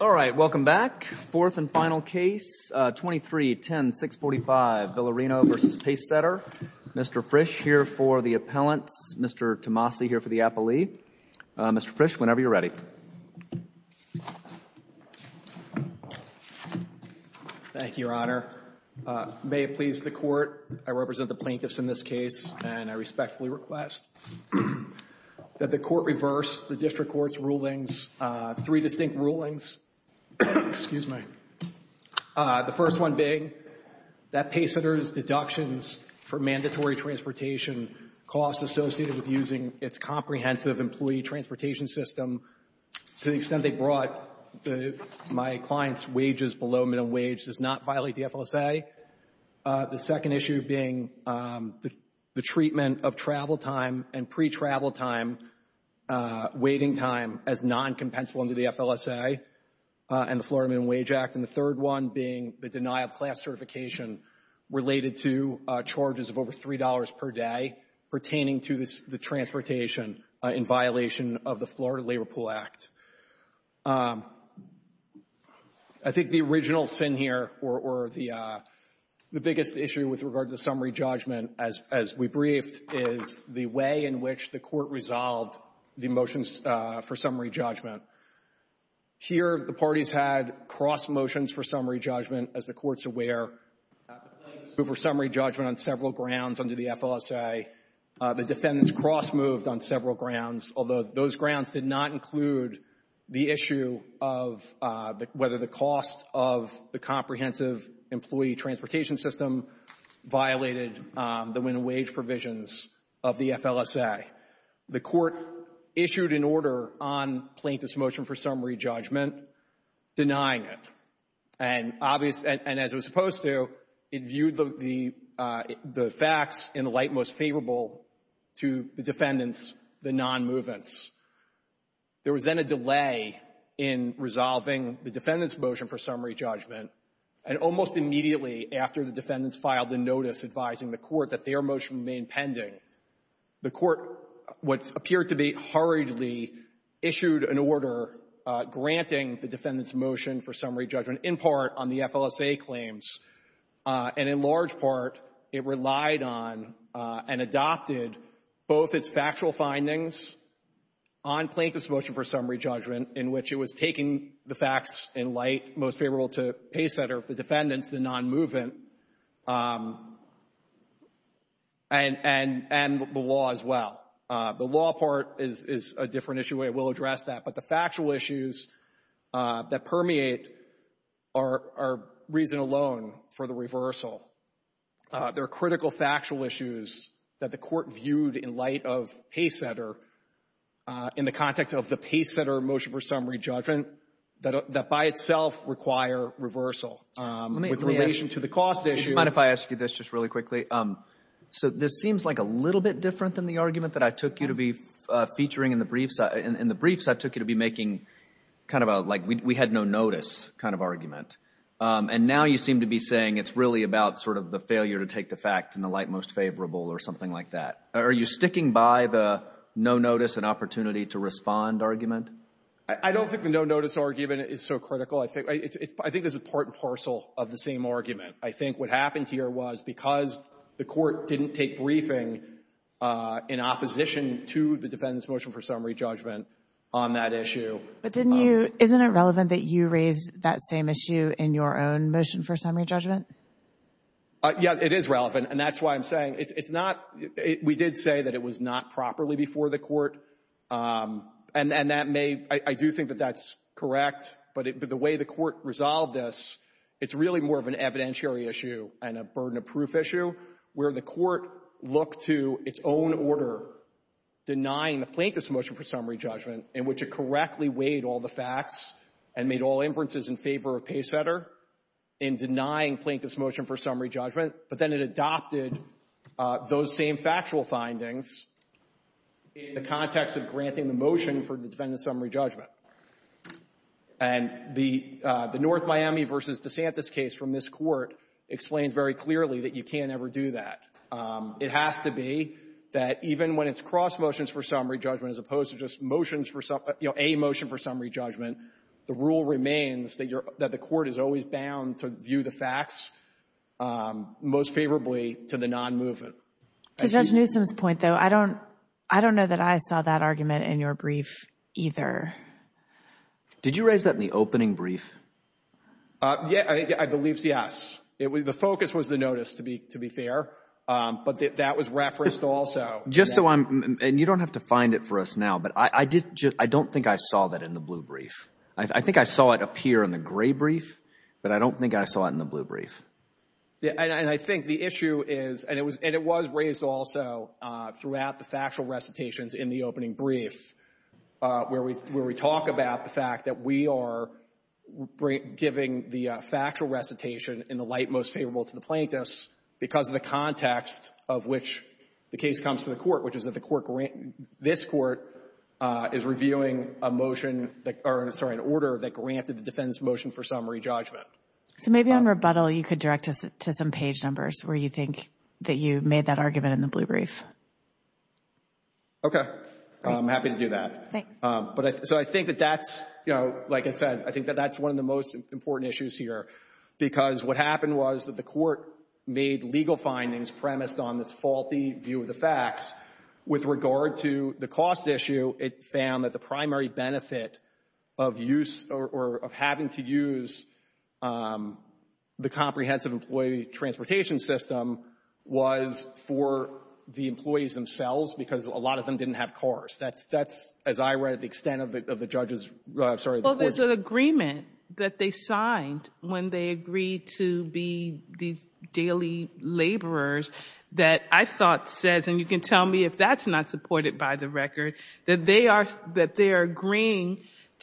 All right, welcome back. Fourth and final case, 23-10-645, Villarino v. Pacesetter. Mr. Frisch here for the appellants, Mr. Tomasi here for the appellee. Mr. Frisch, whenever you're ready. Thank you, Your Honor. May it please the Court, I represent the plaintiffs in this case and I respectfully request that the Court reverse the District Court's rulings, three distinct rulings. Excuse me. The first one being that Pacesetter's deductions for mandatory transportation costs associated with using its comprehensive employee transportation system to the extent they brought my client's wages below minimum wage does not violate the FLSA. The second issue being the treatment of travel time and pre-travel time, waiting time as non-compensable under the FLSA and the Florida Minimum Wage Act. And the third one being the deny of class certification related to charges of over $3 per day pertaining to the transportation in violation of the Florida Labor Pool Act. I think the original sin here or the biggest issue with regard to the summary judgment, as we briefed, is the way in which the Court resolved the motions for summary judgment. Here, the parties had cross-motions for summary judgment, as the Court's aware. The plaintiffs moved for summary judgment on several grounds under the FLSA. The defendants cross-moved on several grounds, although those grounds did not include the issue of whether the cost of the comprehensive employee transportation system violated the minimum wage provisions of the FLSA. The Court issued an order on plaintiffs' motion for summary judgment denying it. And as it was supposed to, it viewed the facts in the light most favorable to the defendants, the non-movements. There was then a delay in resolving the defendants' motion for summary judgment. And almost immediately after the defendants filed a notice advising the Court that their motion remained pending, the Court, what appeared to be hurriedly, issued an order granting the defendants' motion for summary judgment in part on the FLSA claims. And in large part, it relied on and adopted both its factual findings on plaintiffs' motion for summary judgment, in which it was taking the facts in light most favorable to Paysetter, the defendants, the non-movement, and the law as well. The law part is a different issue. I will address that. But the factual issues that permeate are reason alone for the reversal. There are critical factual issues that the Court viewed in light of Paysetter in the context of the Paysetter motion for summary judgment that by itself require reversal with relation to the cost issue. Let me ask you this just really quickly. So this seems like a little bit different than the argument that I took you to be featuring in the briefs. In the briefs, I took you to be making kind of a, like, we had no notice kind of argument. And now you seem to be saying it's really about sort of the failure to take the facts in the light most favorable or something like that. Are you sticking by the no notice and opportunity to respond argument? I don't think the no notice argument is so critical. I think there's a part and parcel of the same argument. I think what happened here was because the Court didn't take briefing in opposition to the defendants' motion for summary judgment on that issue — But didn't you — isn't it relevant that you raised that same issue in your own motion for summary judgment? Yeah, it is relevant. And that's why I'm saying it's not — we did say that it was not properly before the Court. And that may — I do think that that's correct. But the way the Court resolved this, it's really more of an evidentiary issue and a burden of proof issue where the Court looked to its own order denying the plaintiff's motion for summary judgment in which it correctly weighed all the facts and made all inferences in favor of Paysetter in denying plaintiff's motion for summary judgment, but then it adopted those same factual findings in the context of granting the motion for the defendant's summary judgment. And the North Miami v. DeSantis case from this Court explains very clearly that you can't ever do that. It has to be that even when it's cross motions for summary judgment as opposed to just motions for — you know, a motion for summary judgment, the rule remains that you're — that the Court is always bound to view the facts most favorably to the non-movement. To Judge Newsom's point, though, I don't — I don't know that I saw that argument in your brief either. Did you raise that in the opening brief? Yeah, I believe, yes. The focus was the notice, to be fair. But that was referenced also. Just so I'm — and you don't have to find it for us now, but I did — I don't think I saw that in the blue brief. I think I saw it appear in the gray brief, but I don't think I saw it in the blue brief. And I think the issue is — and it was raised also throughout the factual recitations in the opening brief where we talk about the fact that we are giving the factual recitation in the light most favorable to the plaintiffs because of the context of which the case comes to the Court, which is that the Court grant — this Court is reviewing a motion that — or, sorry, an order that granted the defense motion for summary judgment. So maybe on rebuttal, you could direct us to some page numbers where you think that you made that argument in the blue brief. Okay. I'm happy to do that. Thanks. But I — so I think that that's, you know, like I said, I think that that's one of the most important issues here because what happened was that the Court made legal findings premised on this faulty view of the facts. With regard to the cost issue, it found that the primary benefit of use — or of having to use the comprehensive employee transportation system was for the employees themselves because a lot of them didn't have cars. That's, as I read, the extent of the judge's — I'm sorry, the Court's — that I thought says, and you can tell me if that's not supported by the record, that they are — that they are agreeing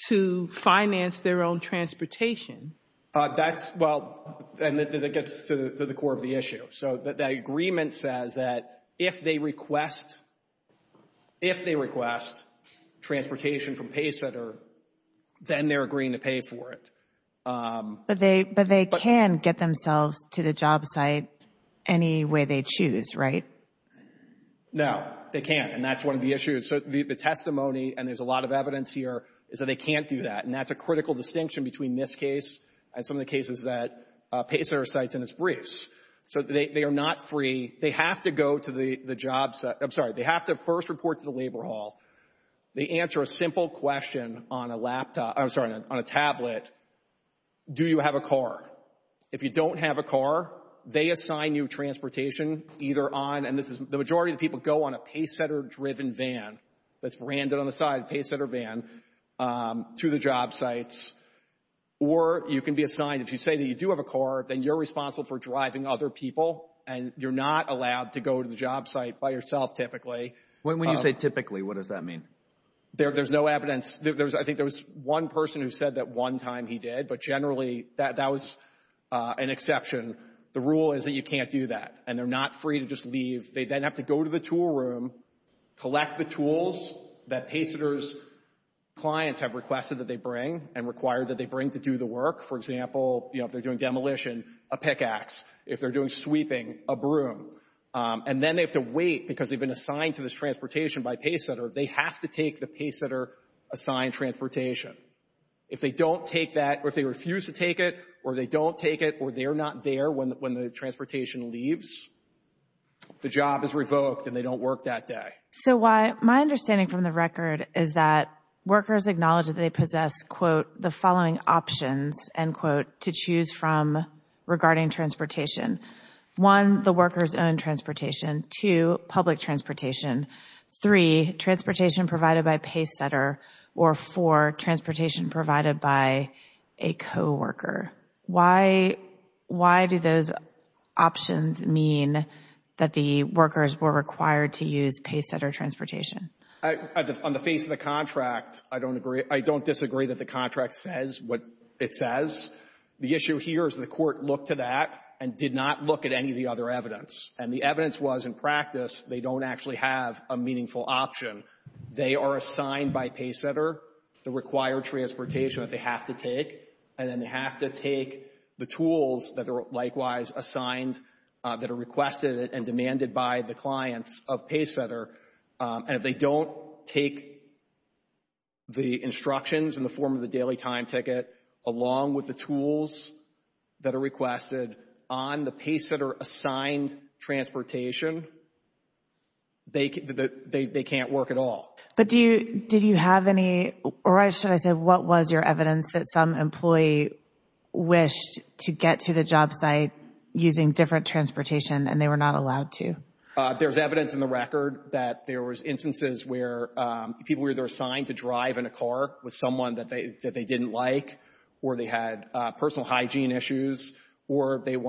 to finance their own transportation. That's — well, and it gets to the core of the issue. So the agreement says that if they request — if they request transportation from Paycenter, then they're agreeing to pay for it. But they can get themselves to the job site any way they choose, right? No, they can't, and that's one of the issues. So the testimony, and there's a lot of evidence here, is that they can't do that, and that's a critical distinction between this case and some of the cases that Paycenter cites in its briefs. So they are not free. They have to go to the job — I'm sorry, they have to first report to the labor hall. They answer a simple question on a laptop — I'm sorry, on a tablet. Do you have a car? If you don't have a car, they assign you transportation either on — and this is — the majority of people go on a Paycenter-driven van that's branded on the side, Paycenter van, to the job sites. Or you can be assigned — if you say that you do have a car, then you're responsible for driving other people, and you're not allowed to go to the job site by yourself, typically. When you say typically, what does that mean? There's no evidence. There was — I think there was one person who said that one time he did, but generally that was an exception. The rule is that you can't do that, and they're not free to just leave. They then have to go to the tool room, collect the tools that Paycenter's clients have requested that they bring and required that they bring to do the work. For example, you know, if they're doing demolition, a pickaxe. If they're doing sweeping, a broom. And then they have to wait, because they've been assigned to this transportation by Paycenter. They have to take the Paycenter-assigned transportation. If they don't take that, or if they refuse to take it, or they don't take it, or they're not there when the transportation leaves, the job is revoked, and they don't work that day. So why — my understanding from the record is that workers acknowledge that they possess, quote, the following options, end quote, to choose from regarding transportation. One, the workers' own transportation. Two, public transportation. Three, transportation provided by Paycenter. Or four, transportation provided by a co-worker. Why do those options mean that the workers were required to use Paycenter transportation? On the face of the contract, I don't disagree that the contract says what it says. The issue here is the Court looked to that and did not look at any of the other evidence. And the evidence was, in practice, they don't actually have a meaningful option. They are assigned by Paycenter the required transportation that they have to take, and then they have to take the tools that are likewise assigned, that are requested and demanded by the clients of Paycenter. And if they don't take the instructions in the form of the daily time ticket along with the tools that are requested on the Paycenter-assigned transportation, they can't work at all. But do you — did you have any — or should I say, what was your evidence that some employee wished to get to the job site using different transportation and they were not allowed to? There's evidence in the record that there was instances where people were either assigned to drive in a car with someone that they didn't like, or they had personal hygiene issues, or they didn't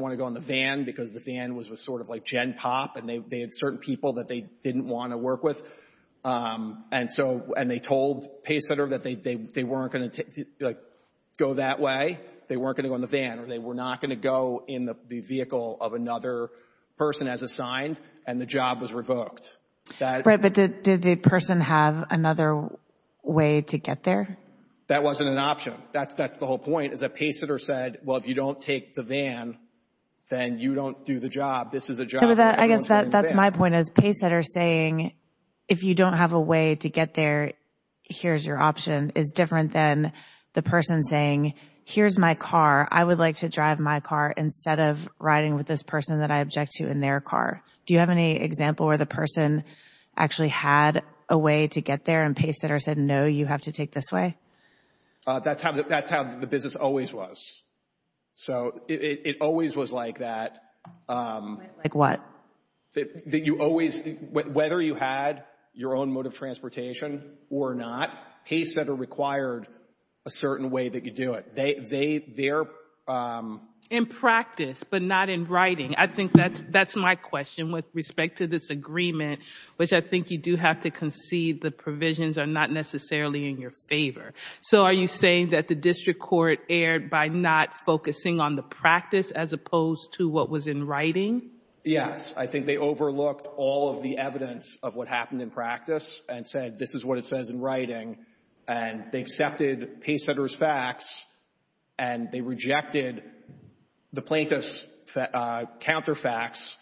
want to go in the van because the van was sort of like gen pop and they had certain people that they didn't want to work with. And so — and they told Paycenter that they weren't going to, like, go that way. They weren't going to go in the van. Or they were not going to go in the vehicle of another person as assigned, and the job was revoked. Right. But did the person have another way to get there? That wasn't an option. That's the whole point, is that Paycenter said, well, if you don't take the van, then you don't do the job. This is a job — I guess that's my point, is Paycenter saying, if you don't have a way to get there, here's your option, is different than the person saying, here's my car, I would like to drive my car instead of riding with this person that I object to in their car. Do you have any example where the person actually had a way to get there and Paycenter said, no, you have to take this way? That's how the business always was. So it always was like that. Like what? You always — whether you had your own mode of transportation or not, Paycenter required a certain way that you do it. They're — In practice, but not in writing. I think that's my question with respect to this agreement, which I think you do have to concede the provisions are not necessarily in your favor. So are you saying that the district court erred by not focusing on the practice as opposed to what was in writing? Yes. I think they overlooked all of the evidence of what happened in practice and said, this is what it says in writing. And they accepted Paycenter's facts and they rejected the plaintiff's counter facts,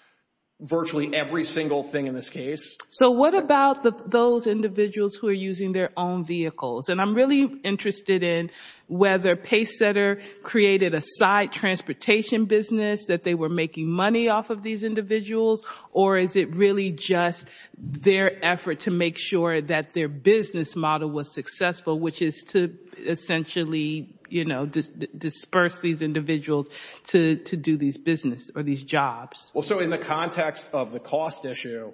virtually every single thing in this case. So what about those individuals who are using their own vehicles? And I'm really interested in whether Paycenter created a side transportation business, that they were making money off of these individuals, or is it really just their effort to make sure that their business model was successful, which is to essentially, you know, disperse these individuals to do these business or these jobs? Well, so in the context of the cost issue,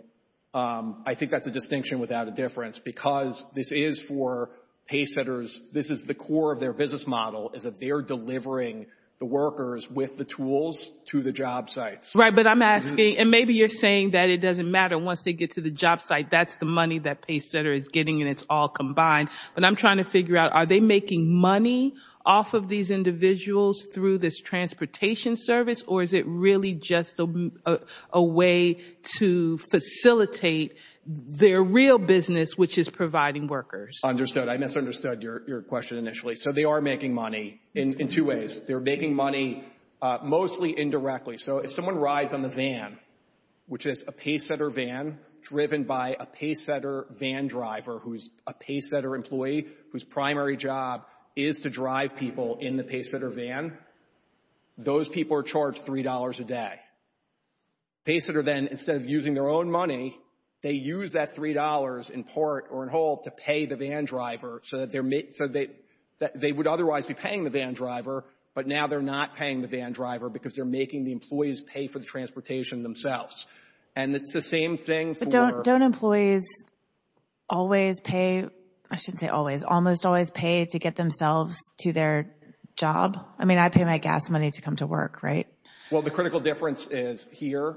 I think that's a distinction without a difference because this is for Paycenters. This is the core of their business model, is that they're delivering the workers with the tools to the job sites. Right. But I'm asking — and maybe you're saying that it doesn't matter. Once they get to the job site, that's the money that Paycenter is getting and it's all combined. But I'm trying to figure out, are they making money off of these individuals through this transportation service, or is it really just a way to facilitate their real business, which is providing workers? I misunderstood your question initially. So they are making money in two ways. They're making money mostly indirectly. So if someone rides on the van, which is a Paycenter van driven by a Paycenter van driver who is a Paycenter employee whose primary job is to drive people in the Paycenter van, those people are charged $3 a day. Paycenter then, instead of using their own money, they use that $3 in part or in whole to pay the van driver so that they would otherwise be paying the van driver, but now they're not paying the van driver because they're making the employees pay for the transportation themselves. And it's the same thing for — But don't employees always pay — I shouldn't say always — almost always pay to get themselves to their job? I mean, I pay my gas money to come to work, right? Well, the critical difference is here,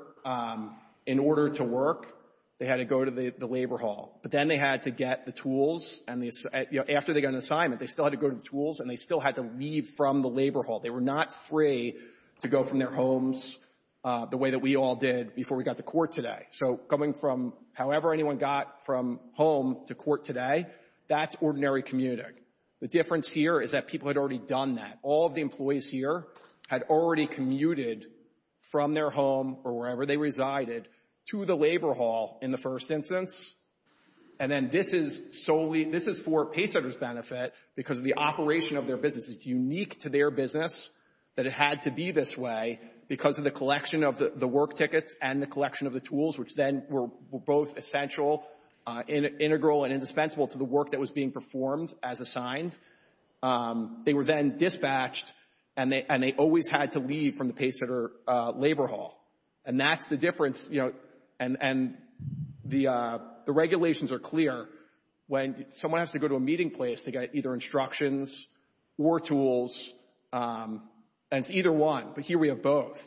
in order to work, they had to go to the labor hall. But then they had to get the tools and the — you know, after they got an assignment, they still had to go to the tools and they still had to leave from the labor hall. They were not free to go from their homes the way that we all did before we got to court today. So coming from however anyone got from home to court today, that's ordinary commuting. The difference here is that people had already done that. All of the employees here had already commuted from their home or wherever they resided to the labor hall in the first instance, and then this is solely — this is for Paycenter's benefit because of the operation of their business. It's unique to their business that it had to be this way because of the collection of the work tickets and the collection of the tools, which then were both essential, integral and indispensable to the work that was being performed as assigned. They were then dispatched, and they always had to leave from the Paycenter labor hall. And that's the difference, you know, and the regulations are clear. When someone has to go to a meeting place, they got either instructions or tools, and it's either one, but here we have both.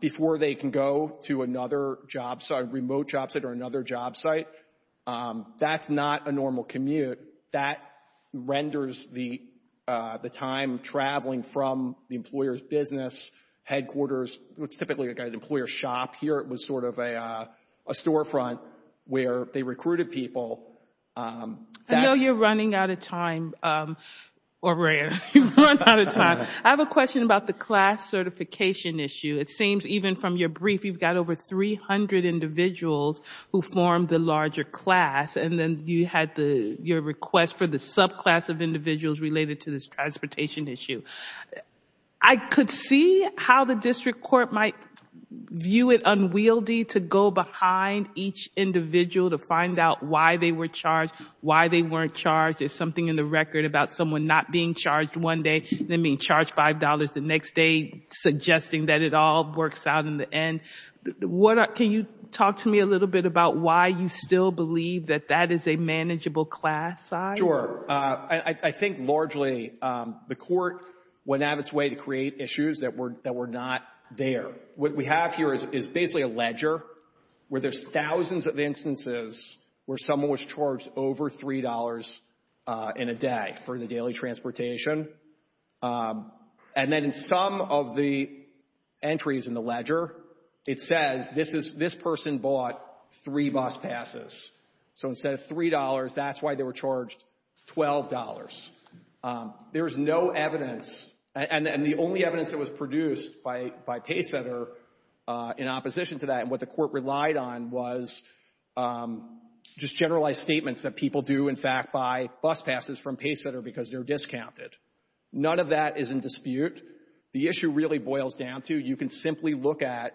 Before they can go to another job site, remote job site or another job site, that's not a normal commute. That renders the time traveling from the employer's business, headquarters — it's typically like an employer shop. Here it was sort of a storefront where they recruited people. I know you're running out of time, O'Rear, you've run out of time. I have a question about the class certification issue. It seems even from your brief, you've got over 300 individuals who formed the larger class, and then you had your request for the subclass of individuals related to this transportation issue. I could see how the district court might view it unwieldy to go behind each individual to find out why they were charged, why they weren't charged, there's something in the record about someone not being charged one day, then being charged $5 the next day, suggesting that it all works out in the end. Can you talk to me a little bit about why you still believe that that is a manageable class size? Sure. I think largely the court went out of its way to create issues that were not there. What we have here is basically a ledger where there's thousands of instances where someone was charged over $3 in a day for the daily transportation. And then in some of the entries in the ledger, it says this person bought three bus passes. So instead of $3, that's why they were charged $12. There's no evidence, and the only evidence that was produced by Paysetter in opposition to that, and what the court relied on was just generalized statements that people do, in fact, buy bus passes from Paysetter because they're discounted. None of that is in dispute. The issue really boils down to you can simply look at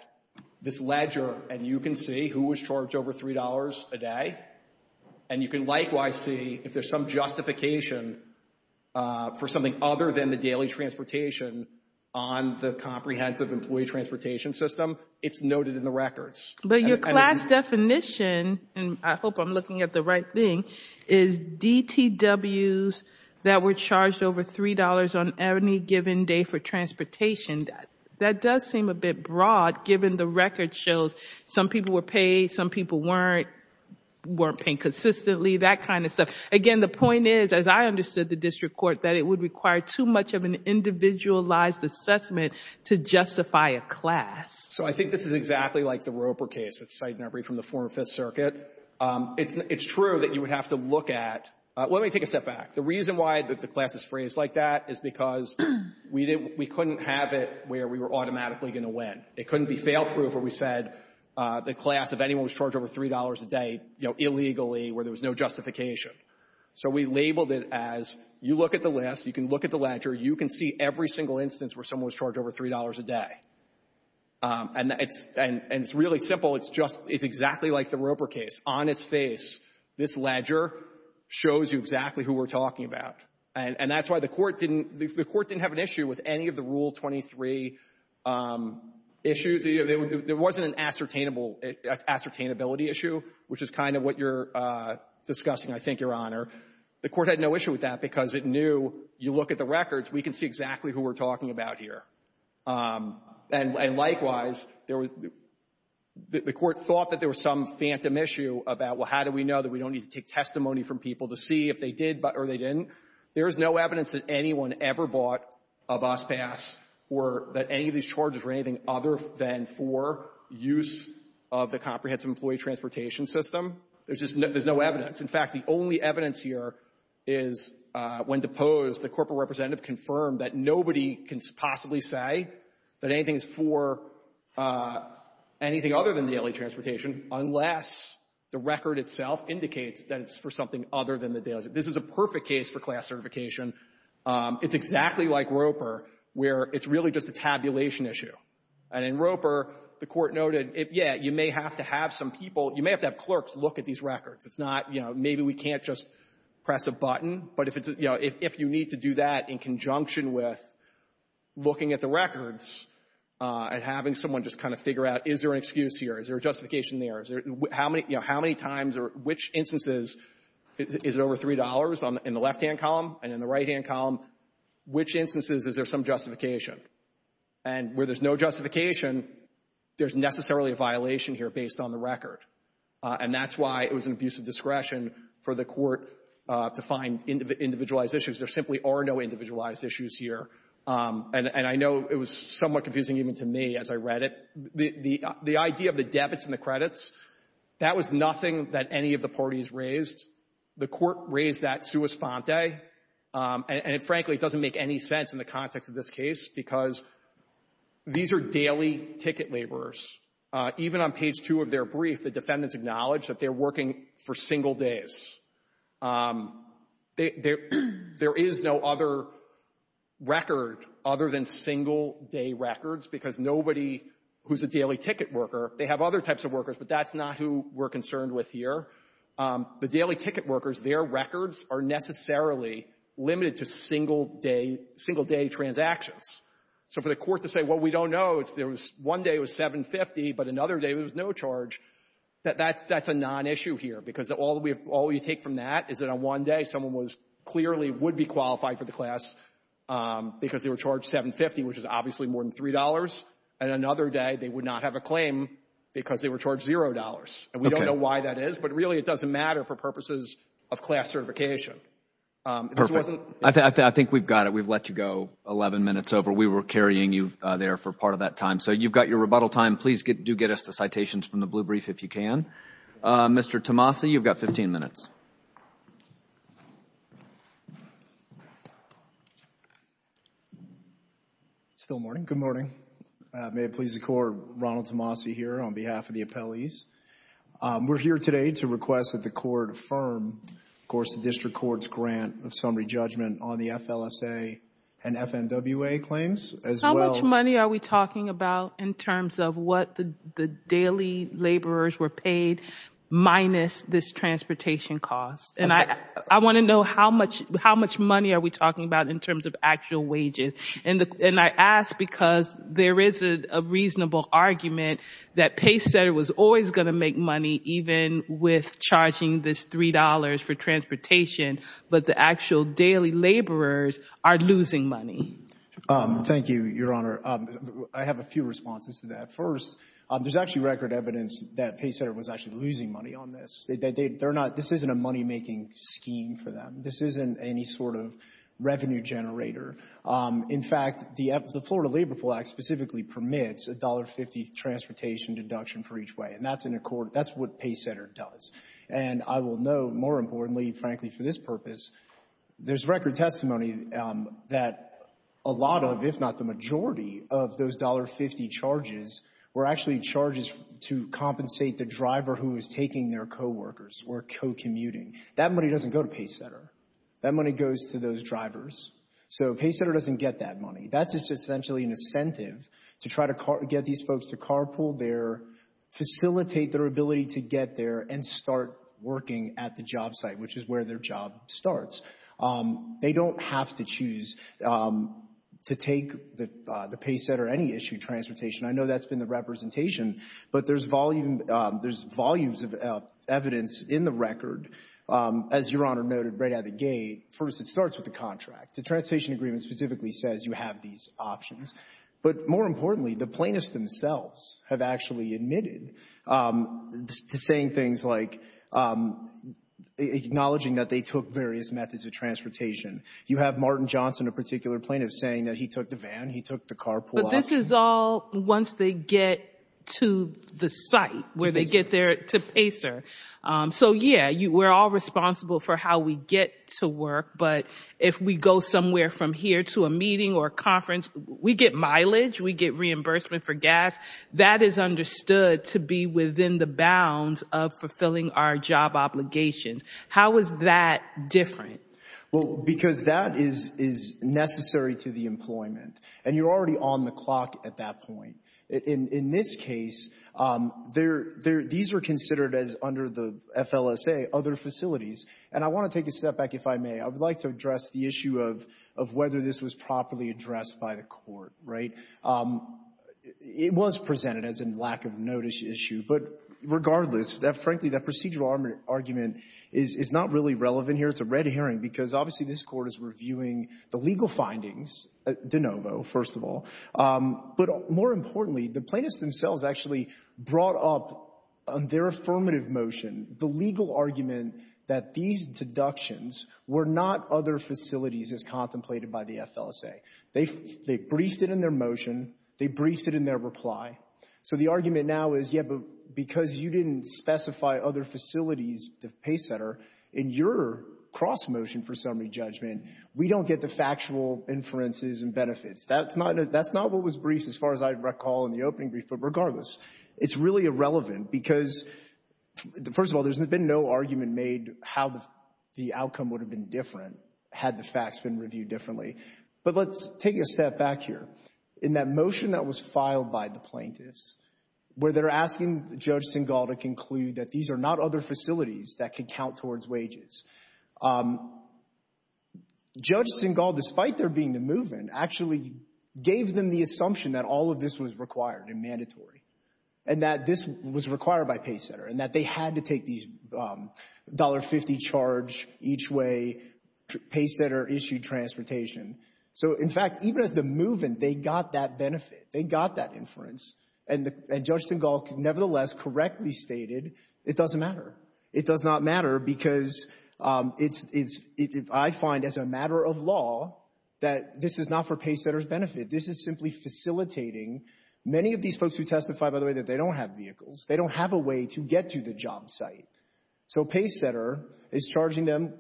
this ledger and you can see who was charged over $3 a day, and you can likewise see if there's some justification for something other than the daily transportation on the Comprehensive Employee Transportation System. It's noted in the records. But your class definition, and I hope I'm looking at the right thing, is DTWs that were charged over $3 on any given day for transportation. That does seem a bit broad, given the record shows some people were paid, some people weren't paid consistently, that kind of stuff. Again, the point is, as I understood the district court, that it would require too much of an individualized assessment to justify a class. So I think this is exactly like the Roper case that's cited in our brief from the former Fifth Circuit. It's true that you would have to look at — let me take a step back. The reason why the class is phrased like that is because we couldn't have it where we were automatically going to win. It couldn't be fail-proof where we said the class, if anyone was charged over $3 a day, you know, illegally, where there was no justification. So we labeled it as, you look at the list, you can look at the ledger, you can see every single instance where someone was charged over $3 a day. And it's really simple. It's just — it's exactly like the Roper case. On its face, this ledger shows you exactly who we're talking about. And that's why the Court didn't — the Court didn't have an issue with any of the Rule 23 issues. There wasn't an ascertainable — ascertainability issue, which is kind of what you're discussing, I think, Your Honor. The Court had no issue with that because it knew, you look at the records, we can see exactly who we're talking about here. And likewise, there was — the Court thought that there was some phantom issue about, well, how do we know that we don't need to take testimony from people to see if they did or they didn't. There is no evidence that anyone ever bought a bus pass or that any of these charges were anything other than for use of the comprehensive employee transportation system. There's just — there's no evidence. In fact, the only evidence here is when deposed, the corporate representative confirmed that nobody can possibly say that anything is for anything other than daily transportation unless the record itself indicates that it's for something other than the daily transportation. This is a perfect case for class certification. It's exactly like Roper, where it's really just a tabulation issue. And in Roper, the Court noted, yeah, you may have to have some people — you may have to have clerks look at these records. It's not, you know, maybe we can't just press a button. But if it's — you know, if you need to do that in conjunction with looking at the records and having someone just kind of figure out, is there an excuse here? Is there a justification there? Is there — how many — you know, how many times or which instances — is it over $3 in the left-hand column and in the right-hand column? Which instances is there some justification? And where there's no justification, there's necessarily a violation here based on the record. And that's why it was an abuse of discretion for the Court to find individualized issues. There simply are no individualized issues here. And I know it was somewhat confusing even to me as I read it. The idea of the debits and the credits, that was nothing that any of the parties raised. The Court raised that sua sponte, and frankly, it doesn't make any sense in the context of this case because these are daily ticket laborers. Even on page 2 of their brief, the defendants acknowledge that they're working for single days. There is no other record other than single-day records because nobody who's a daily ticket worker — they have other types of workers, but that's not who we're concerned with here. The daily ticket workers, their records are necessarily limited to single-day transactions. So for the Court to say, well, we don't know, one day it was $750, but another day it was no charge, that's a non-issue here. Because all we take from that is that on one day, someone clearly would be qualified for the class because they were charged $750, which is obviously more than $3. And another day, they would not have a claim because they were charged $0, and we don't know why that is. But really, it doesn't matter for purposes of class certification. Perfect. I think we've got it. We've let you go 11 minutes over. We were carrying you there for part of that time. So you've got your rebuttal time. Please do get us the citations from the blue brief if you can. Mr. Tomasi, you've got 15 minutes. Still morning. Good morning. May it please the Court, Ronald Tomasi here on behalf of the appellees. We're here today to request that the Court affirm, of course, the District Court's grant of summary judgment on the FLSA and FNWA claims as well. How much money are we talking about in terms of what the daily laborers were paid minus this transportation cost? And I want to know how much money are we talking about in terms of actual wages? And I ask because there is a reasonable argument that PayCenter was always going to make money even with charging this $3 for transportation, but the actual daily laborers are losing money. Thank you, Your Honor. I have a few responses to that. First, there's actually record evidence that PayCenter was actually losing money on this. This isn't a money-making scheme for them. This isn't any sort of revenue generator. In fact, the Florida Labor Pool Act specifically permits $1.50 transportation deduction for each way. And that's what PayCenter does. And I will note, more importantly, frankly, for this purpose, there's record testimony that a lot of, if not the majority, of those $1.50 charges were actually charges to compensate the driver who was taking their coworkers or co-commuting. That money doesn't go to PayCenter. That money goes to those drivers. So PayCenter doesn't get that money. That's just essentially an incentive to try to get these folks to carpool there, facilitate their ability to get there, and start working at the job site, which is where their job starts. They don't have to choose to take the PayCenter or any issue of transportation. I know that's been the representation, but there's volumes of evidence in the record. As Your Honor noted right out of the gate, first, it starts with the contract. The transportation agreement specifically says you have these options. But more importantly, the plaintiffs themselves have actually admitted to saying things like acknowledging that they took various methods of transportation. You have Martin Johnson, a particular plaintiff, saying that he took the van, he took the carpool option. But this is all once they get to the site, where they get there to PayCenter. So yeah, we're all responsible for how we get to work. But if we go somewhere from here to a meeting or conference, we get mileage, we get reimbursement for gas. That is understood to be within the bounds of fulfilling our job obligations. How is that different? Well, because that is necessary to the employment. And you're already on the clock at that point. In this case, these were considered as, under the FLSA, other facilities. And I want to take a step back, if I may. I would like to address the issue of whether this was properly addressed by the court, right? It was presented as a lack of notice issue. But regardless, frankly, that procedural argument is not really relevant here. It's a red herring, because obviously this Court is reviewing the legal findings, de novo, first of all. But more importantly, the plaintiffs themselves actually brought up on their affirmative motion the legal argument that these deductions were not other facilities as contemplated by the FLSA. They briefed it in their motion. They briefed it in their reply. So the argument now is, yeah, but because you didn't specify other facilities to PayCenter in your cross-motion for summary judgment, we don't get the factual inferences and benefits. That's not what was briefed, as far as I recall, in the opening brief. But regardless, it's really irrelevant, because first of all, there's been no argument made how the outcome would have been different had the facts been reviewed differently. But let's take a step back here. In that motion that was filed by the plaintiffs, where they're asking Judge Singal to conclude that these are not other facilities that could count towards wages, Judge Singal, despite there being the movement, actually gave them the assumption that all of this was required and mandatory, and that this was required by PayCenter, and that they had to take these $1.50 charge each way PayCenter issued transportation. So in fact, even as the movement, they got that benefit. They got that inference. And Judge Singal, nevertheless, correctly stated it doesn't matter. It does not matter, because I find as a matter of law that this is not for PayCenter's benefit. This is simply facilitating many of these folks who testify, by the way, that they don't have vehicles. They don't have a way to get to the job site. So PayCenter is charging them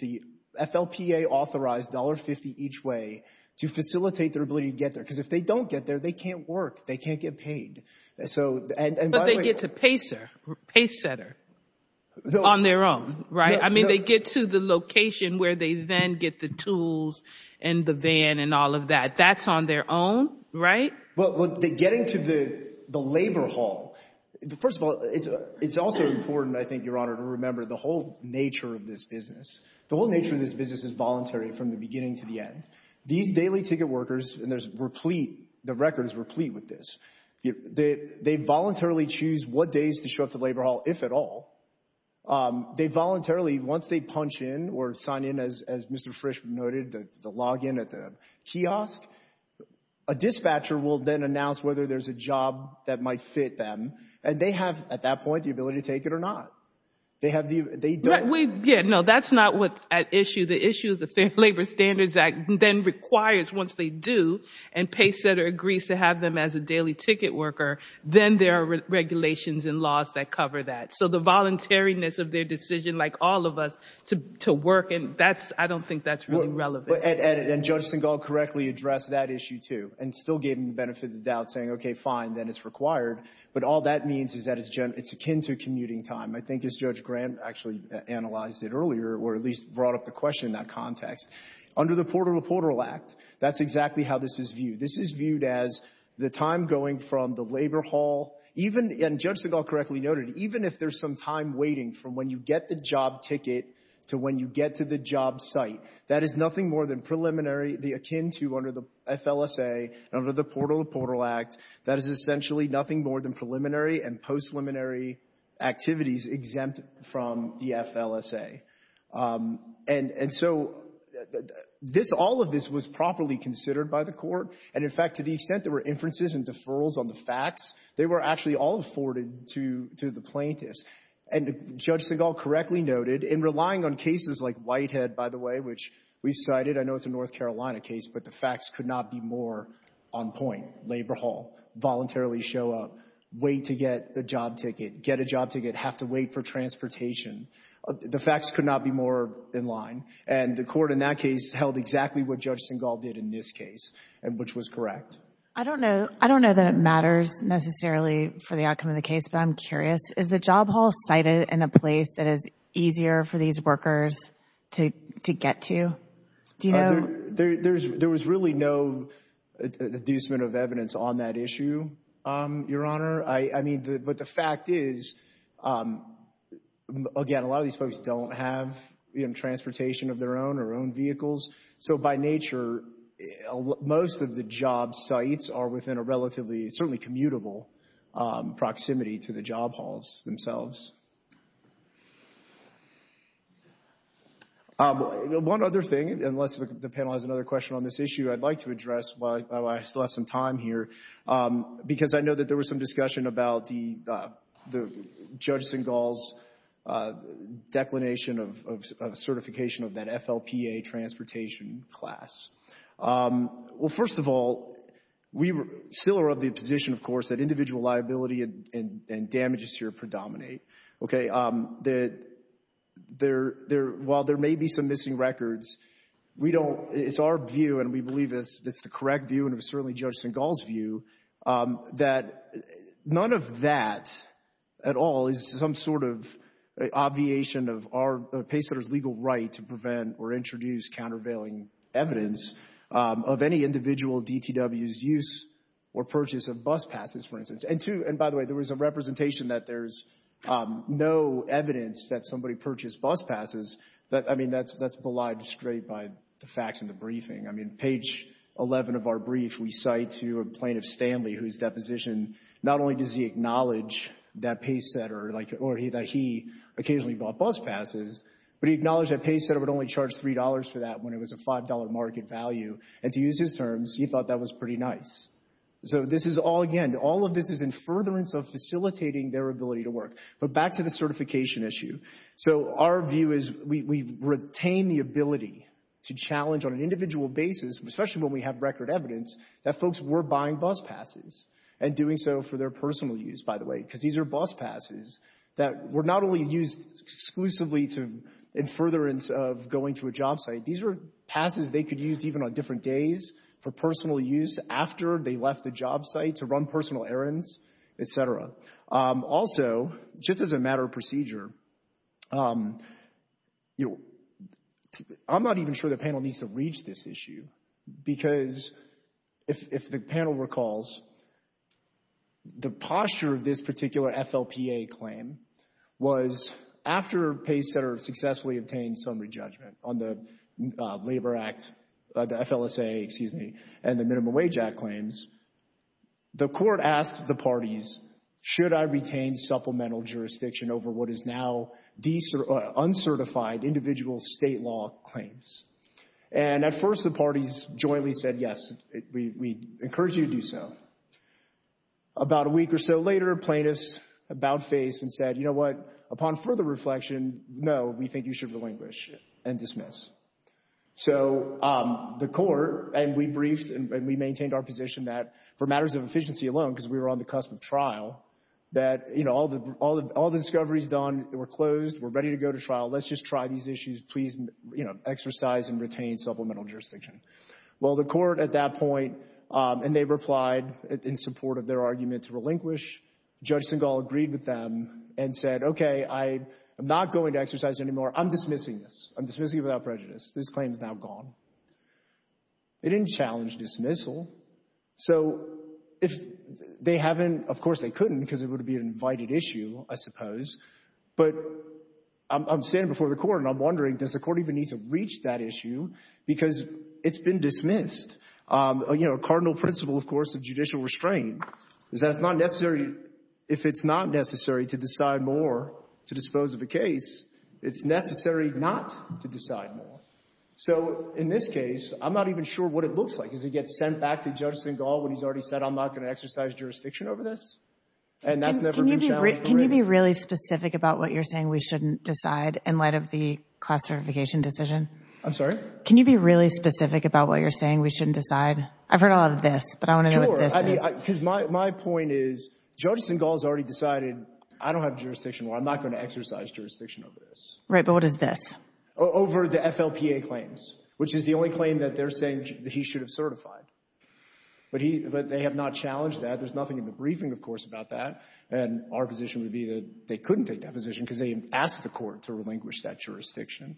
the FLPA-authorized $1.50 each way to facilitate their ability to get there. Because if they don't get there, they can't work. They can't get paid. But they get to PayCenter on their own, right? I mean, they get to the location where they then get the tools and the van and all of that. That's on their own, right? Well, getting to the labor hall, first of all, it's also important, I think, Your Honor, to remember the whole nature of this business. The whole nature of this business is voluntary from the beginning to the end. These daily ticket workers, and there's replete, the record is replete with this, they voluntarily choose what days to show up to the labor hall, if at all. They voluntarily, once they punch in or sign in, as Mr. Frisch noted, the login at the kiosk, a dispatcher will then announce whether there's a job that might fit them. And they have, at that point, the ability to take it or not. They have the, they don't. Yeah, no, that's not what's at issue. The issue of the Fair Labor Standards Act then requires, once they do, and Paysetter agrees to have them as a daily ticket worker, then there are regulations and laws that cover that. So the voluntariness of their decision, like all of us, to work, and that's, I don't think that's really relevant. And Judge Singal correctly addressed that issue, too, and still gave him the benefit of the doubt, saying, okay, fine, then it's required. But all that means is that it's akin to commuting time. I think, as Judge Grant actually analyzed it earlier, or at least brought up the question in that context, under the Portal to Portal Act, that's exactly how this is viewed. This is viewed as the time going from the labor hall, even, and Judge Singal correctly noted, even if there's some time waiting from when you get the job ticket to when you get to the job site, that is nothing more than preliminary, akin to under the FLSA, under the Portal to Portal Act, that is essentially nothing more than preliminary and post-preliminary activities exempt from the FLSA. And so this, all of this was properly considered by the Court, and in fact, to the extent there were inferences and deferrals on the facts, they were actually all afforded to the plaintiffs. And Judge Singal correctly noted, in relying on cases like Whitehead, by the way, which we cited, I know it's a North Carolina case, but the facts could not be more on point. Labor hall, voluntarily show up, wait to get the job ticket, get a job ticket, have to wait for transportation. The facts could not be more in line, and the Court in that case held exactly what Judge Singal did in this case, which was correct. I don't know that it matters necessarily for the outcome of the case, but I'm curious. Is the job hall cited in a place that is easier for these workers to get to? Do you know? There was really no inducement of evidence on that issue, Your Honor. But the fact is, again, a lot of these folks don't have transportation of their own or own vehicles. So by nature, most of the job sites are within a relatively, certainly commutable proximity to the job halls themselves. One other thing, unless the panel has another question on this issue, I'd like to address while I still have some time here, because I know that there was some discussion about the Judge Singal's declination of certification of that FLPA transportation class. Well, first of all, we still are of the position, of course, that individual liability and damages here predominate. While there may be some missing records, we don't, it's our view and we believe it's the correct view and it was certainly Judge Singal's view, that none of that at all is some sort of obviation of our, the pacemaker's legal right to prevent or introduce countervailing evidence of any individual DTW's use or purchase of bus passes, for instance. And two, and by the way, there was a representation that there's no evidence that somebody purchased bus passes that, I mean, that's belied straight by the facts in the briefing. I mean, page 11 of our brief, we cite to a plaintiff, Stanley, whose deposition, not only does he acknowledge that pace setter, like, or that he occasionally bought bus passes, but he acknowledged that pace setter would only charge $3 for that when it was a $5 market value. And to use his terms, he thought that was pretty nice. So this is all, again, all of this is in furtherance of facilitating their ability to work. But back to the certification issue, so our view is we retain the ability to challenge on an individual basis, especially when we have record evidence, that folks were buying bus passes and doing so for their personal use, by the way, because these are bus passes that were not only used exclusively to, in furtherance of going to a job site, these are passes they could use even on different days for personal use after they left the job site to run personal errands, et cetera. Also, just as a matter of procedure, I'm not even sure the panel needs to reach this issue because if the panel recalls, the posture of this particular FLPA claim was after pace setter successfully obtained some re-judgment on the Labor Act, the FLSA, excuse me, and the Minimum Wage Act claims, the court asked the parties, should I retain supplemental jurisdiction over what is now uncertified individual state law claims? And at first, the parties jointly said, yes, we encourage you to do so. About a week or so later, plaintiffs about-faced and said, you know what? Upon further reflection, no, we think you should relinquish and dismiss. So the court, and we briefed and we maintained our position that for matters of efficiency alone, because we were on the cusp of trial, that, you know, all the discoveries done were closed, we're ready to go to trial, let's just try these issues, please, you know, exercise and retain supplemental jurisdiction. Well, the court at that point, and they replied in support of their argument to relinquish, Judge Singal agreed with them and said, okay, I am not going to exercise anymore. I'm dismissing this. I'm dismissing it without prejudice. This claim is now gone. They didn't challenge dismissal. So if they haven't, of course, they couldn't because it would be an invited issue, I suppose, but I'm standing before the court and I'm wondering, does the court even need to reach that issue because it's been dismissed? You know, a cardinal principle, of course, of judicial restraint is that it's not necessary, if it's not necessary to decide more to dispose of a case, it's necessary not to decide more. So in this case, I'm not even sure what it looks like. Does it get sent back to Judge Singal when he's already said, I'm not going to exercise jurisdiction over this? And that's never been challenged. Can you be really specific about what you're saying we shouldn't decide in light of the class certification decision? I'm sorry? Can you be really specific about what you're saying we shouldn't decide? I've heard a lot of this, but I want to know what this is. My point is, Judge Singal has already decided, I don't have jurisdiction, or I'm not going to exercise jurisdiction over this. Right, but what is this? Over the FLPA claims, which is the only claim that they're saying that he should have certified. But they have not challenged that. There's nothing in the briefing, of course, about that. And our position would be that they couldn't take that position because they asked the court to relinquish that jurisdiction.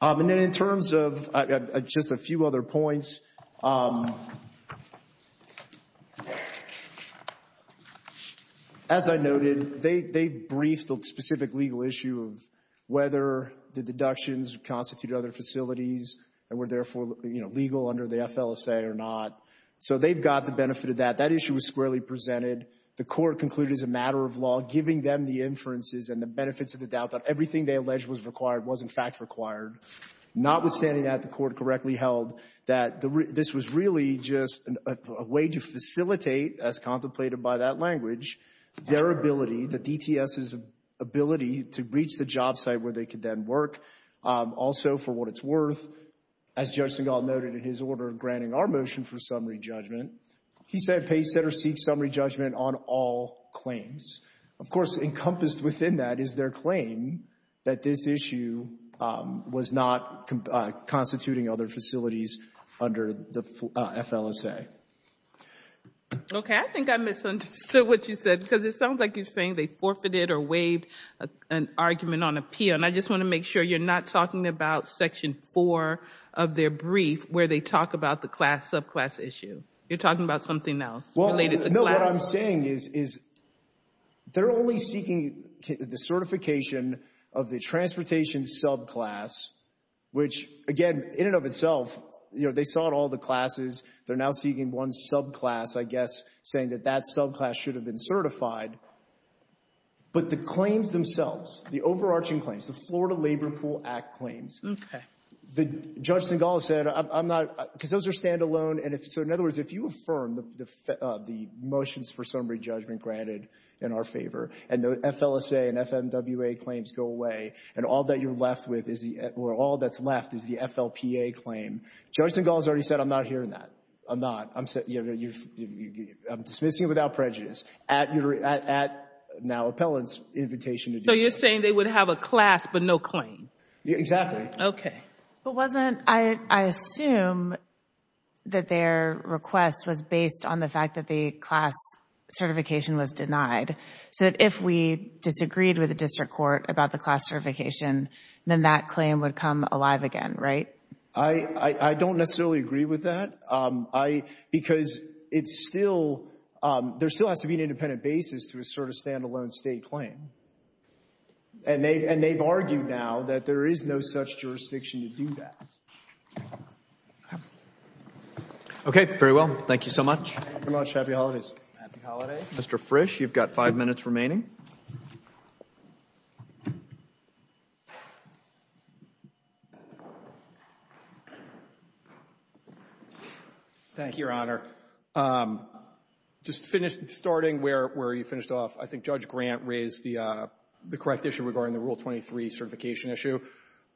And then in terms of just a few other points, as I noted, they briefed the specific legal issue of whether the deductions constituted other facilities and were therefore legal under the FLSA or not. So they've got the benefit of that. That issue was squarely presented. The court concluded as a matter of law, giving them the inferences and the benefits of the doubt that everything they alleged was required was, in fact, required. Notwithstanding that, the court correctly held that this was really just a way to facilitate, as contemplated by that language, their ability, the DTS's ability, to reach the job site where they could then work, also for what it's worth, as Judge Singal noted in his order granting our motion for summary judgment. He said pay, set, or seek summary judgment on all claims. Of course, encompassed within that is their claim that this issue was not constituting other facilities under the FLSA. Okay. I think I misunderstood what you said because it sounds like you're saying they forfeited or waived an argument on appeal. And I just want to make sure you're not talking about Section 4 of their brief where they talk about the class, subclass issue. You're talking about something else related to class? Well, no. What I'm saying is they're only seeking the certification of the transportation subclass, which, again, in and of itself, you know, they sought all the classes, they're now seeking one subclass, I guess, saying that that subclass should have been certified. But the claims themselves, the overarching claims, the Florida Labor Pool Act claims, Okay. Judge Singall has said, I'm not, because those are standalone, and so in other words, if you affirm the motions for summary judgment granted in our favor, and the FLSA and FMWA claims go away, and all that you're left with is the, or all that's left is the FLPA claim, Judge Singall has already said I'm not hearing that. I'm not. I'm, you know, I'm dismissing it without prejudice at your, at now Appellant's invitation to do so. So you're saying they would have a class but no claim? Exactly. But wasn't, I assume that their request was based on the fact that the class certification was denied. So that if we disagreed with the district court about the class certification, then that claim would come alive again, right? I don't necessarily agree with that. Because it's still, there still has to be an independent basis to assert a standalone state claim. And they've, and they've argued now that there is no such jurisdiction to do that. Okay. Okay. Very well. Thank you so much. Thank you very much. Happy Holidays. Happy Holidays. Mr. Frisch, you've got five minutes remaining. Thank you, Your Honor. Just to finish, starting where you finished off, I think Judge Grant raised the correct issue regarding the Rule 23 certification issue.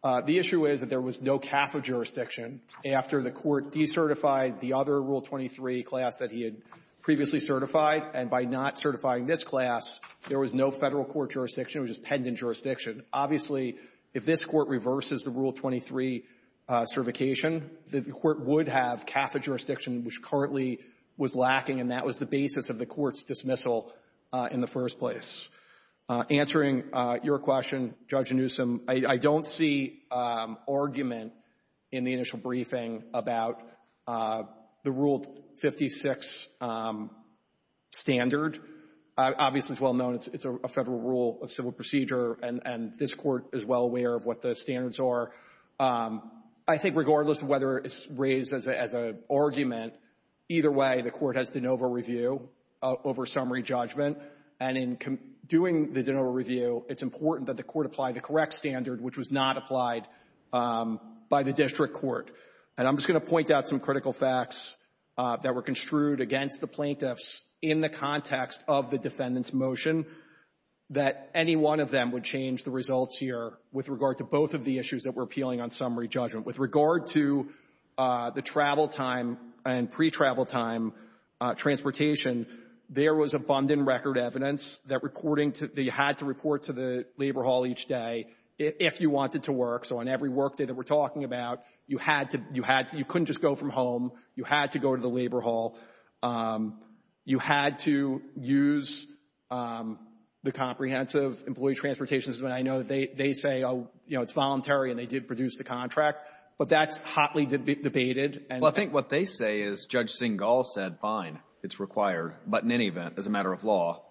The issue is that there was no CAFA jurisdiction after the Court decertified the other Rule 23 class that he had previously certified. And by not certifying this class, there was no Federal court jurisdiction. It was just pendant jurisdiction. Obviously, if this Court reverses the Rule 23 certification, the Court would have CAFA jurisdiction, which currently was lacking, and that was the basis of the Court's dismissal in the first place. Answering your question, Judge Newsom, I don't see argument in the initial briefing about the Rule 56 standard. Obviously, it's well known it's a Federal rule of civil procedure, and this Court is well aware of what the standards are. I think regardless of whether it's raised as an argument, either way, the Court has de novo review over summary judgment, and in doing the de novo review, it's important that the Court apply the correct standard, which was not applied by the district court. And I'm just going to point out some critical facts that were construed against the plaintiffs in the context of the defendant's motion that any one of them would change the results here with regard to both of the issues that were appealing on summary judgment. With regard to the travel time and pre-travel time transportation, there was abundant record evidence that you had to report to the labor hall each day if you wanted to work. So on every work day that we're talking about, you couldn't just go from home. You had to go to the labor hall. You had to use the comprehensive employee transportation system. And I know they say, oh, you know, it's voluntary and they did produce the contract, but that's hotly debated. Well, I think what they say is Judge Singal said, fine, it's required, but in any event, as a matter of law.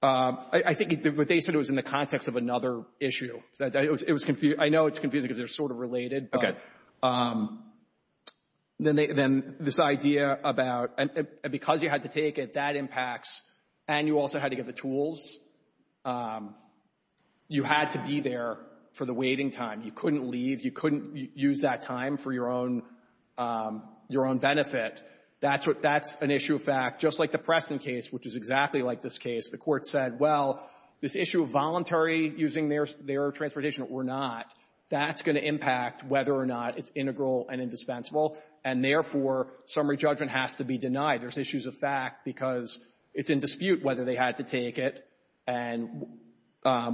I think what they said was in the context of another issue. I know it's confusing because they're sort of related, but then this idea about, because you had to take it, that impacts, and you also had to get the tools. You had to be there for the waiting time. You couldn't leave. You couldn't use that time for your own benefit. That's an issue of fact, just like the Preston case, which is exactly like this case. The Court said, well, this issue of voluntary using their transportation or not, that's going to impact whether or not it's integral and indispensable. And therefore, summary judgment has to be denied. There's issues of fact because it's in dispute whether they had to take it and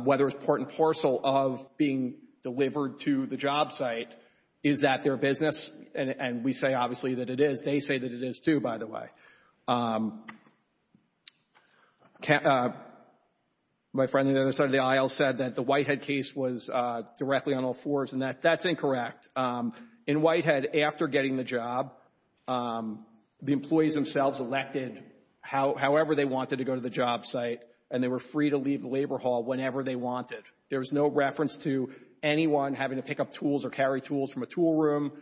whether it's part and parcel of being delivered to the job site. Is that their business? And we say, obviously, that it is. They say that it is, too, by the way. My friend on the other side of the aisle said that the Whitehead case was directly on all That's incorrect. In Whitehead, after getting the job, the employees themselves elected however they wanted to go to the job site, and they were free to leave the labor hall whenever they wanted. There was no reference to anyone having to pick up tools or carry tools from a tool room.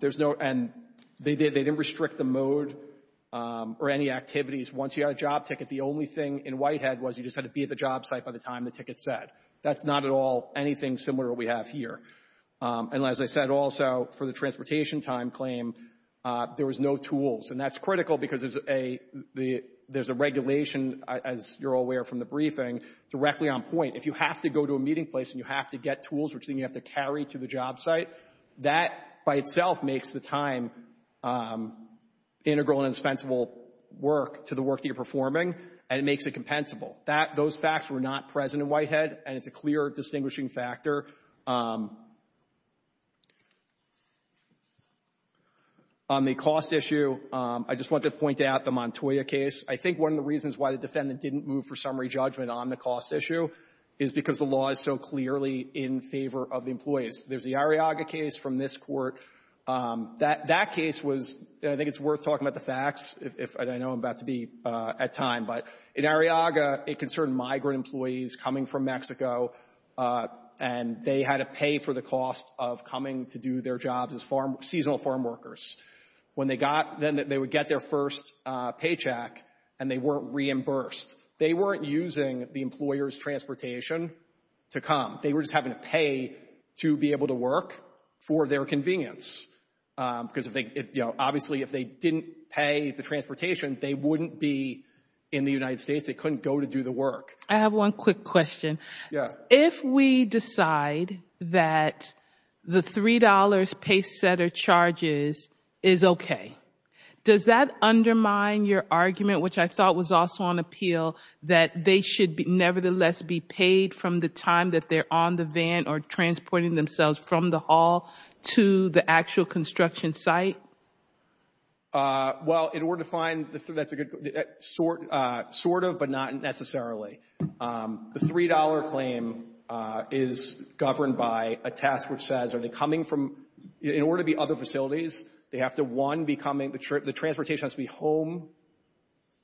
There's no, and they didn't restrict the mode or any activities. Once you got a job ticket, the only thing in Whitehead was you just had to be at the job site by the time the ticket said. That's not at all anything similar to what we have here. And as I said also, for the transportation time claim, there was no tools, and that's critical because there's a regulation, as you're all aware from the briefing, directly on point. If you have to go to a meeting place and you have to get tools, which then you have to carry to the job site, that by itself makes the time integral and indispensable work to the work that you're performing, and it makes it compensable. Those facts were not present in Whitehead, and it's a clear distinguishing factor. On the cost issue, I just want to point out the Montoya case. I think one of the reasons why the defendant didn't move for summary judgment on the cost issue is because the law is so clearly in favor of the employees. There's the Arriaga case from this court. That case was, I think it's worth talking about the facts, and I know I'm about to be at time, but in Arriaga, it concerned migrant employees coming from Mexico, and they had to pay for the cost of coming to do their jobs as farm, seasonal farm workers. When they got, then they would get their first paycheck, and they weren't reimbursed. They weren't using the employer's transportation to come. They were just having to pay to be able to work for their convenience, because if they, obviously, if they didn't pay the transportation, they wouldn't be in the United States. They couldn't go to do the work. I have one quick question. If we decide that the $3 paysetter charges is okay, does that undermine your argument, which I thought was also on appeal, that they should nevertheless be paid from the time that they're on the van or transporting themselves from the hall to the actual construction site? Well, in order to find, that's a good, sort of, but not necessarily. The $3 claim is governed by a task which says, are they coming from, in order to be other facilities, they have to, one, be coming, the transportation has to be home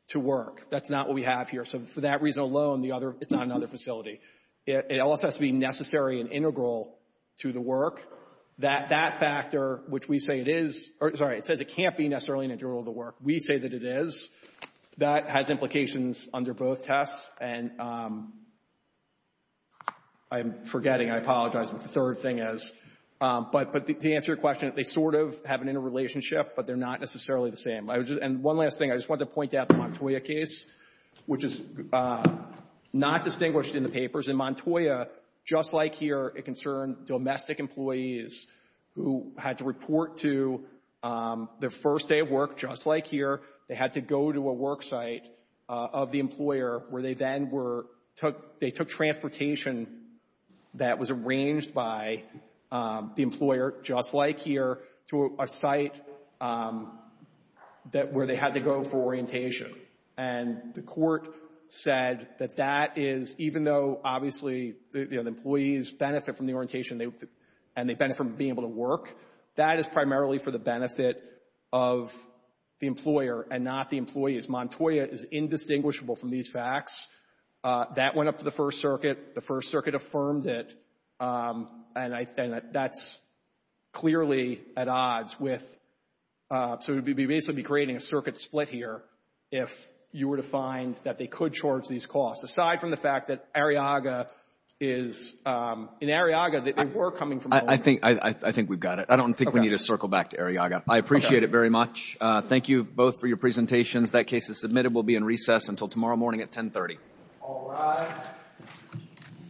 to work. That's not what we have here. So, for that reason alone, the other, it's not another facility. It also has to be necessary and integral to the work. That factor, which we say it is, or, sorry, it says it can't be necessarily integral to the work. We say that it is. That has implications under both tests, and I'm forgetting, I apologize, what the third thing is. But, to answer your question, they sort of have an interrelationship, but they're not necessarily the same. And one last thing, I just wanted to point out the Montoya case, which is not distinguished in the papers. In Montoya, just like here, it concerned domestic employees who had to report to their first day of work, just like here. They had to go to a work site of the employer where they then were, they took transportation that was arranged by the employer, just like here, to a site where they had to go for orientation. And the court said that that is, even though, obviously, you know, the employees benefit from the orientation, and they benefit from being able to work, that is primarily for the benefit of the employer and not the employees. Montoya is indistinguishable from these facts. That went up to the First Circuit. The First Circuit affirmed it, and I think that's clearly at odds with, so we'd basically be creating a circuit split here if you were to find that they could charge these costs, aside from the fact that Arriaga is, in Arriaga, that they were coming from the employer. I think we've got it. Okay. I don't think we need to circle back to Arriaga. Okay. I appreciate it very much. Thank you both for your presentations. That case is submitted. We'll be in recess until tomorrow morning at 1030. All rise. Thank you.